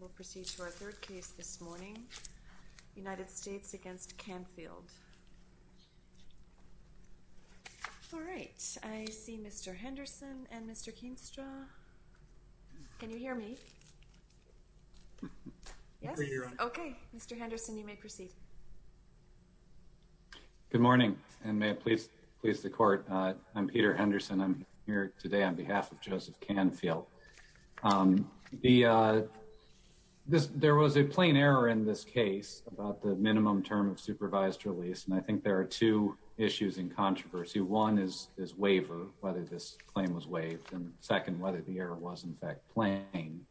Good morning and may it please the court. I'm Peter Henderson. I'm here today on behalf of Joseph Canfield. There was a plain error in this case about the minimum term of supervised release, and I think there are two issues in controversy. One is waiver, whether this claim was waived, and second, whether the error was in fact plain.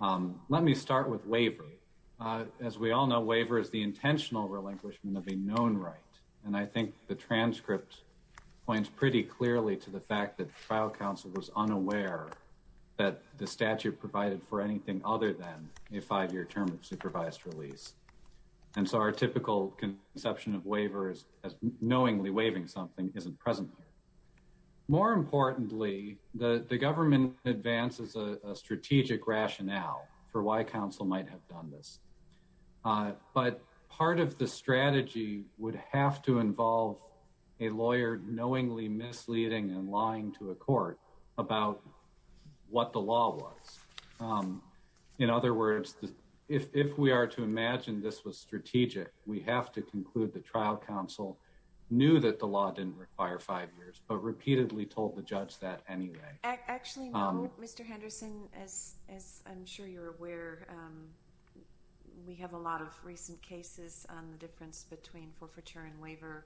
Let me start with waiver. As we all know, waiver is the intentional relinquishment of a known right, and I think the transcript points pretty clearly to the fact that the trial counsel was unaware that the statute provided for anything other than a five-year term of supervised release. And so our typical conception of waiver is knowingly waiving something isn't present here. More importantly, the government advances a strategic rationale for why counsel might have done this. But part of the strategy would have to involve a lawyer knowingly misleading and lying to a court about what the law was. In other words, if we are to imagine this was strategic, we have to conclude the trial counsel knew that the law didn't require five years, but repeatedly told the judge that anyway. Actually, no. Mr. Henderson, as I'm sure you're aware, we have a lot of recent cases on the difference between forfeiture and waiver,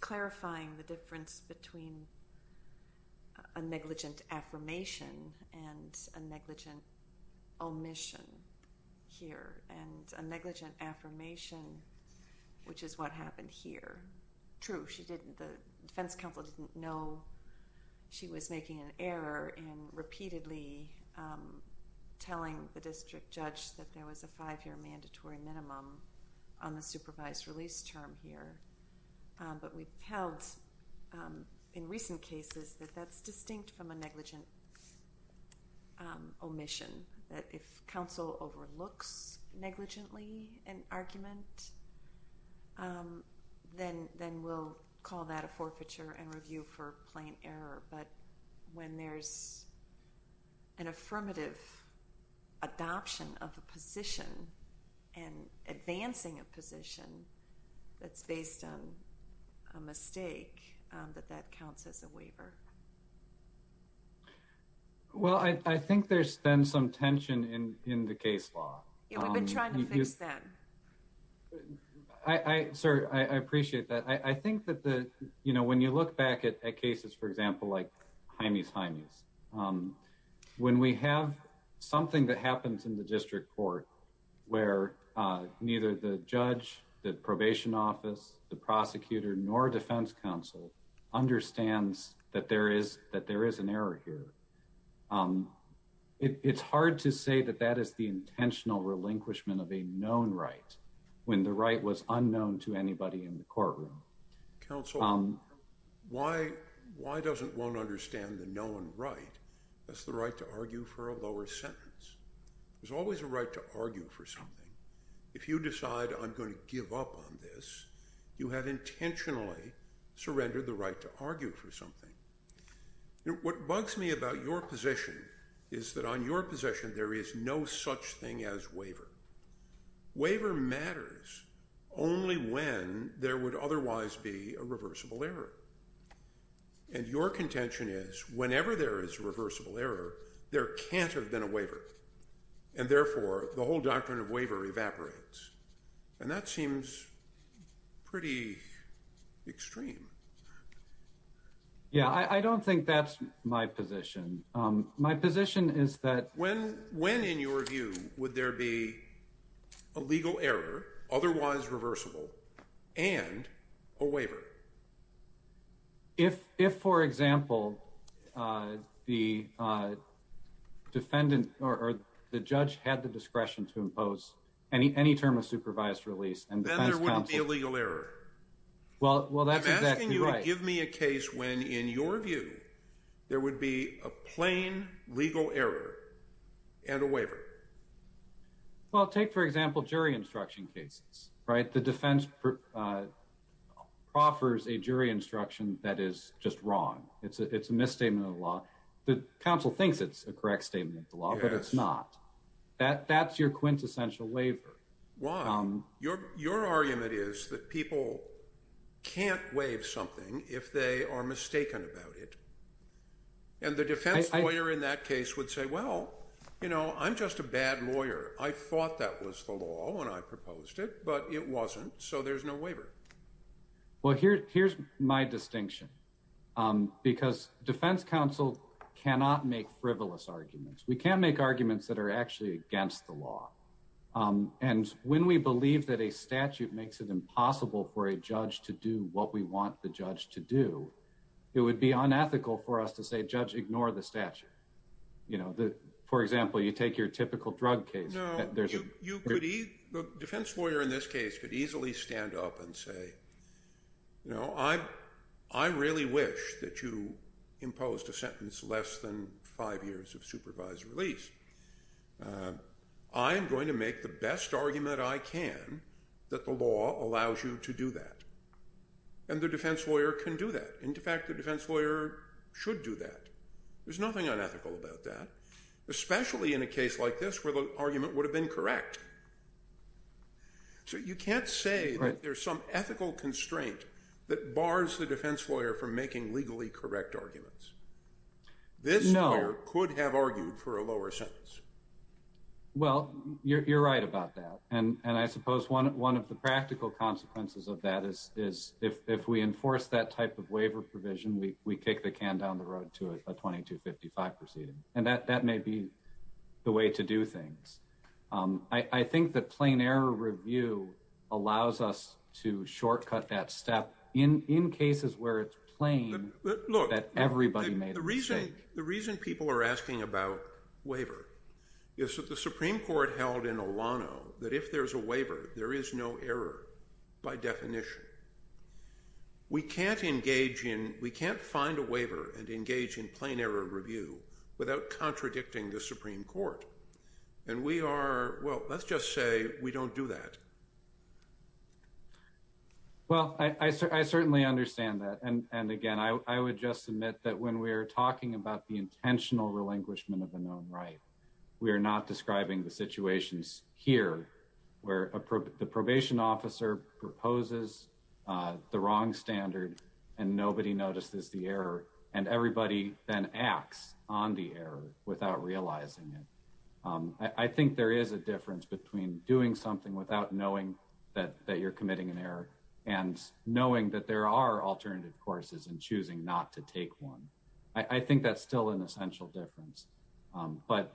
clarifying the difference between a negligent affirmation and a negligent omission here. And a negligent affirmation, which is what happened here. True, the defense counsel didn't know she was making an error in repeatedly telling the district judge that there was a five-year mandatory minimum on the supervised release term here. But we've held in recent cases that that's distinct from a negligent omission, that if counsel overlooks negligently an argument, then we'll call that a forfeiture and review for plain error. But when there's an affirmative adoption of a position and advancing a position that's based on a mistake, that that counts as a waiver. Well, I think there's been some tension in the case law. Yeah, we've been trying to fix that. I, sir, I appreciate that. I think that the, you know, when you look back at cases, for example, like Jaime's Jaime's, when we have something that happens in the district court where neither the judge, the probation office, the prosecutor, nor defense counsel understands that there is that there is an error here. It's hard to say that that is the intentional relinquishment of a known right when the right was unknown to anybody in the courtroom. Counsel, why, why doesn't one understand the known right? That's the right to argue for a lower sentence. There's always a right to argue for something. If you decide I'm going to give up on this, you have intentionally surrendered the right to argue for something. What bugs me about your position is that on your position, there is no such thing as waiver. Waiver matters only when there would otherwise be a reversible error. And your contention is whenever there is a reversible error, there can't have been a waiver. And therefore, the whole doctrine of waiver evaporates. And that seems pretty extreme. Yeah, I don't think that's my position. My position is that when, when, in your view, would there be a legal error, otherwise reversible and a waiver? If, if, for example, the defendant or the judge had the discretion to impose any, any term of supervised release and legal error. Well, well, that's exactly right. I'm asking you to give me a case when, in your view, there would be a plain legal error and a waiver. Well, take, for example, jury instruction cases, right? The defense proffers a jury instruction that is just wrong. It's a, it's a misstatement of the law. The counsel thinks it's a correct statement of the law, but it's not. That, that's your quintessential waiver. Why? Your, your argument is that people can't waive something if they are mistaken about it. And the defense lawyer in that case would say, well, you know, I'm just a bad lawyer. I thought that was the law when I proposed it, but it wasn't. So there's no waiver. Well, here, here's my distinction, because defense counsel cannot make frivolous arguments. We can make arguments that are actually against the law. And when we believe that a statute makes it impossible for a judge to do what we want the judge to do, it would be unethical for us to say, judge, ignore the statute. You know, the, for example, you take your typical drug case. No, you could, the defense lawyer in this case could easily stand up and say, you know, I, I really wish that you imposed a sentence less than five years of supervised release. I am going to make the best argument I can that the law allows you to do that. And the defense lawyer can do that. In fact, the defense lawyer should do that. There's nothing unethical about that, especially in a case like this where the argument would have been correct. So you can't say that there's some ethical constraint that bars the defense lawyer from making legally correct arguments. This lawyer could have argued for a lower sentence. Well, you're right about that. And I suppose one of the practical consequences of that is if we enforce that type of waiver provision, we kick the can down the road to a 2255 proceeding. And that may be the way to do things. I think that plain error review allows us to shortcut that step in cases where it's plain that everybody made a mistake. I think the reason people are asking about waiver is that the Supreme Court held in Olano that if there's a waiver, there is no error by definition. We can't engage in, we can't find a waiver and engage in plain error review without contradicting the Supreme Court. And we are, well, let's just say we don't do that. Well, I certainly understand that. And again, I would just admit that when we are talking about the intentional relinquishment of a known right, we are not describing the situations here where the probation officer proposes the wrong standard and nobody notices the error and everybody then acts on the error without realizing it. I think there is a difference between doing something without knowing that you're committing an error and knowing that there are alternative courses and choosing not to take one. I think that's still an essential difference. But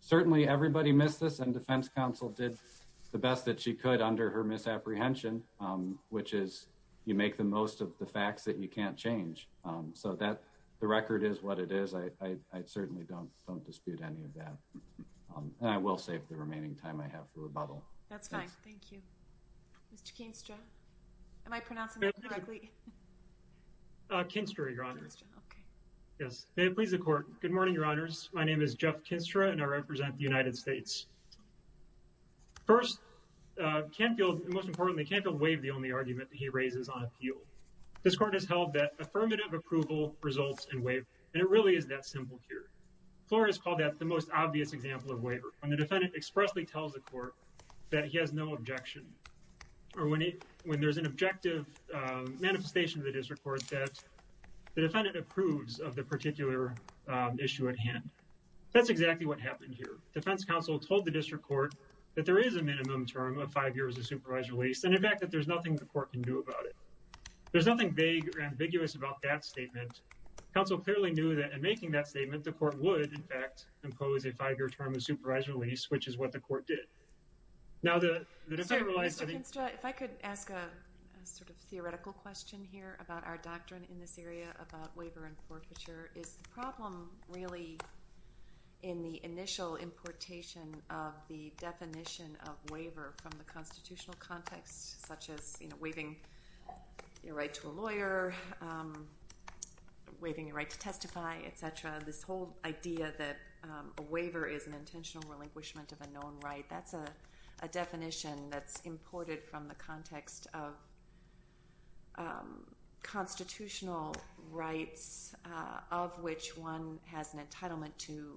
certainly everybody missed this and defense counsel did the best that she could under her misapprehension, which is you make the most of the facts that you can't change. So that the record is what it is. I certainly don't don't dispute any of that. And I will save the remaining time I have for rebuttal. That's fine. Thank you. Mr. Kinstra. Am I pronouncing that correctly? Kinstra, Your Honor. Yes. May it please the Court. Good morning, Your Honors. My name is Jeff Kinstra and I represent the United States. First, Canfield, and most importantly, Canfield waived the only argument that he raises on appeal. This Court has held that affirmative approval results in waiver and it really is that simple here. Flores called that the most obvious example of waiver when the defendant expressly tells the court that he has no objection. Or when there's an objective manifestation of the district court that the defendant approves of the particular issue at hand. That's exactly what happened here. Defense counsel told the district court that there is a minimum term of five years of supervised release and in fact that there's nothing the court can do about it. There's nothing vague or ambiguous about that statement. Counsel clearly knew that in making that statement, the court would, in fact, impose a five-year term of supervised release, which is what the court did. Now the defendant realized... Mr. Kinstra, if I could ask a sort of theoretical question here about our doctrine in this area about waiver and forfeiture. Is the problem really in the initial importation of the definition of waiver from the constitutional context? Such as waiving your right to a lawyer, waiving your right to testify, etc. This whole idea that a waiver is an intentional relinquishment of a known right. That's a definition that's imported from the context of constitutional rights of which one has an entitlement to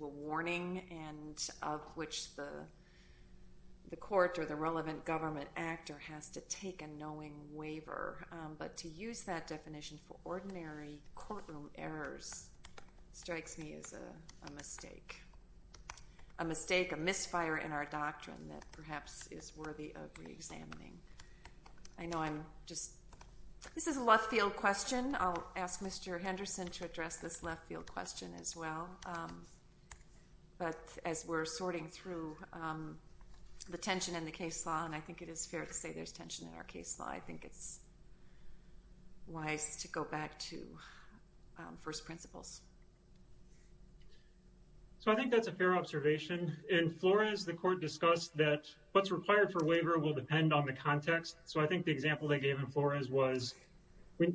a warning and of which the court or the relevant government actor has to take a knowing waiver. But to use that definition for ordinary courtroom errors strikes me as a mistake. A mistake, a misfire in our doctrine that perhaps is worthy of re-examining. I know I'm just... This is a left-field question. I'll ask Mr. Henderson to address this left-field question as well. But as we're sorting through the tension in the case law, and I think it is fair to say there's tension in our case law, I think it's wise to go back to first principles. So I think that's a fair observation. In Flores, the court discussed that what's required for waiver will depend on the context. So I think the example they gave in Flores was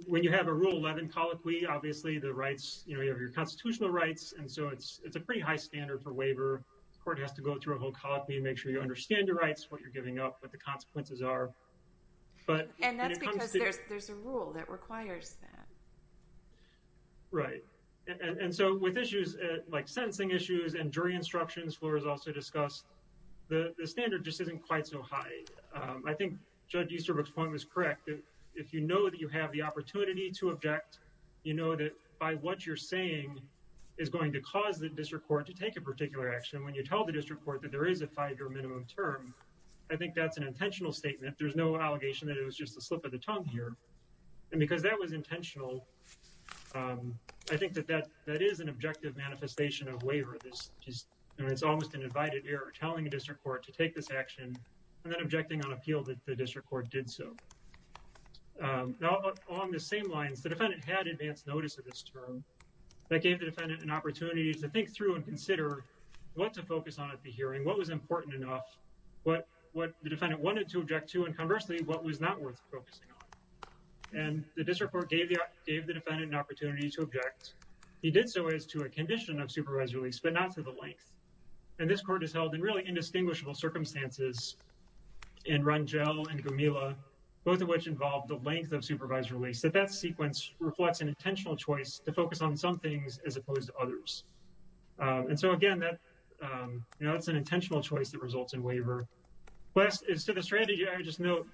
when you have a Rule 11 colloquy, obviously the rights, you know, you have your constitutional rights, and so it's a pretty high standard for waiver. The court has to go through a whole colloquy and make sure you understand your rights, what you're giving up, what the consequences are. And that's because there's a rule that requires that. Right. And so with issues like sentencing issues and jury instructions, Flores also discussed, the standard just isn't quite so high. I think Judge Easterbrook's point was correct. If you know that you have the opportunity to object, you know that by what you're saying is going to cause the district court to take a particular action. When you tell the district court that there is a five-year minimum term, I think that's an intentional statement. There's no allegation that it was just a slip of the tongue here. And because that was intentional, I think that that is an objective manifestation of waiver. It's almost an invited error telling a district court to take this action and then objecting on appeal that the district court did so. Now, along the same lines, the defendant had advance notice of this term. That gave the defendant an opportunity to think through and consider what to focus on at the hearing, what was important enough, what the defendant wanted to object to, and conversely, what was not worth focusing on. And the district court gave the defendant an opportunity to object. He did so as to a condition of supervised release, but not to the length. And this court has held in really indistinguishable circumstances in Rangel and Gomila, both of which involved the length of supervised release, that that sequence reflects an intentional choice to focus on some things as opposed to others. And so again, that's an intentional choice that results in waiver. Last is to the strategy, I would just note,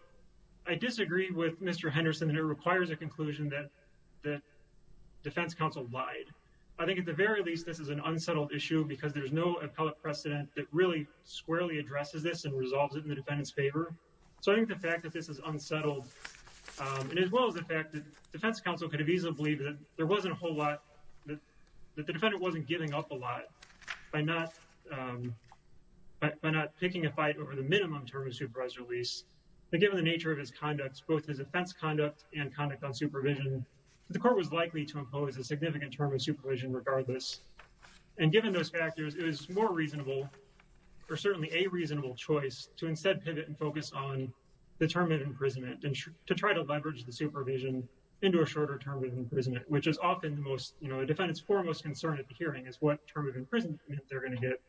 I disagree with Mr. Henderson, and it requires a conclusion that the defense counsel lied. I think at the very least, this is an unsettled issue because there's no appellate precedent that really squarely addresses this and resolves it in the defendant's favor. So I think the fact that this is unsettled, and as well as the fact that defense counsel could have easily believed that there wasn't a whole lot, that the defendant wasn't giving up a lot by not picking a fight over the minimum term of supervised release. But given the nature of his conducts, both his offense conduct and conduct on supervision, the court was likely to impose a significant term of supervision regardless. And given those factors, it was more reasonable or certainly a reasonable choice to instead pivot and focus on the term of imprisonment and to try to leverage the supervision into a shorter term of imprisonment, which is often the most, you know, a defendant's foremost concern at the hearing is what term of imprisonment they're going to get.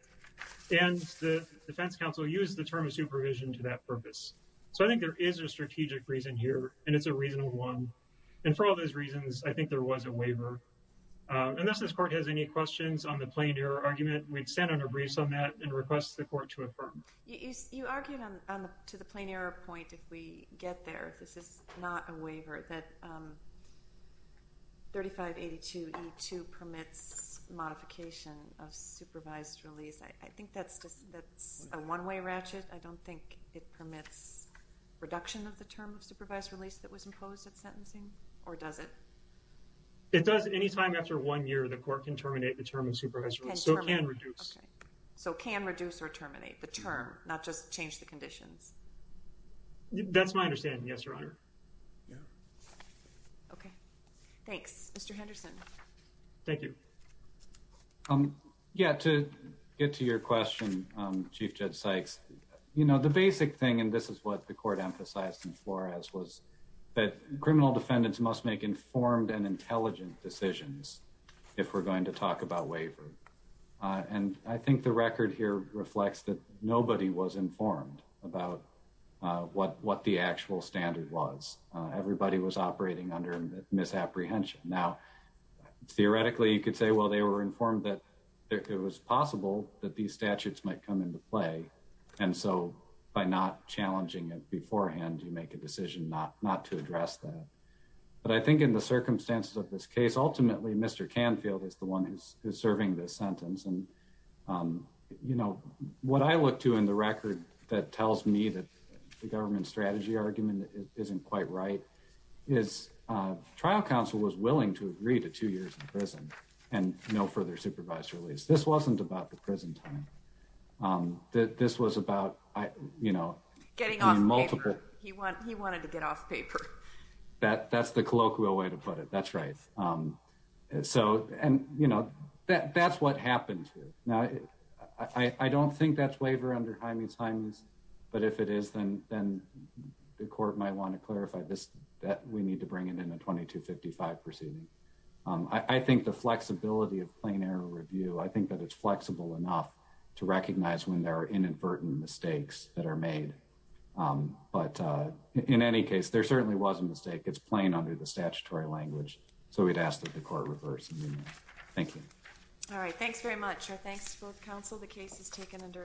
And the defense counsel used the term of supervision to that purpose. So I think there is a strategic reason here, and it's a reasonable one. And for all those reasons, I think there was a waiver. Unless this court has any questions on the plain error argument, we'd stand on our briefs on that and request the court to affirm. You argued to the plain error point, if we get there, this is not a waiver, that 3582E2 permits modification of supervised release. I think that's a one-way ratchet. I don't think it permits reduction of the term of supervised release that was imposed at sentencing, or does it? It does. Any time after one year, the court can terminate the term of supervised release. So it can reduce. So it can reduce or terminate the term, not just change the conditions. That's my understanding, yes, Your Honor. Okay. Thanks. Mr. Henderson. Thank you. Yeah, to get to your question, Chief Judge Sykes, you know, the basic thing, and this is what the court emphasized in Flores, was that criminal defendants must make informed and intelligent decisions if we're going to talk about waiver. And I think the record here reflects that nobody was informed about what the actual standard was. Everybody was operating under misapprehension. Now, theoretically, you could say, well, they were informed that it was possible that these statutes might come into play. And so by not challenging it beforehand, you make a decision not to address that. But I think in the circumstances of this case, ultimately, Mr. Canfield is the one who's serving this sentence. And, you know, what I look to in the record that tells me that the government strategy argument isn't quite right is trial counsel was willing to agree to two years in prison and no further supervised release. This wasn't about the prison time. This was about, you know, getting multiple... Getting off paper. He wanted to get off paper. That's the colloquial way to put it. That's right. So, and, you know, that's what happened here. Now, I don't think that's waiver under Hymens-Hymens. But if it is, then the court might want to clarify this, that we need to bring it in a 2255 proceeding. I think the flexibility of plain error review, I think that it's flexible enough to recognize when there are inadvertent mistakes that are made. But in any case, there certainly was a mistake. It's plain under the statutory language. So we'd ask that the court reverse. Thank you. All right. Thanks very much. Our thanks to both counsel. The case is taken under adjournment.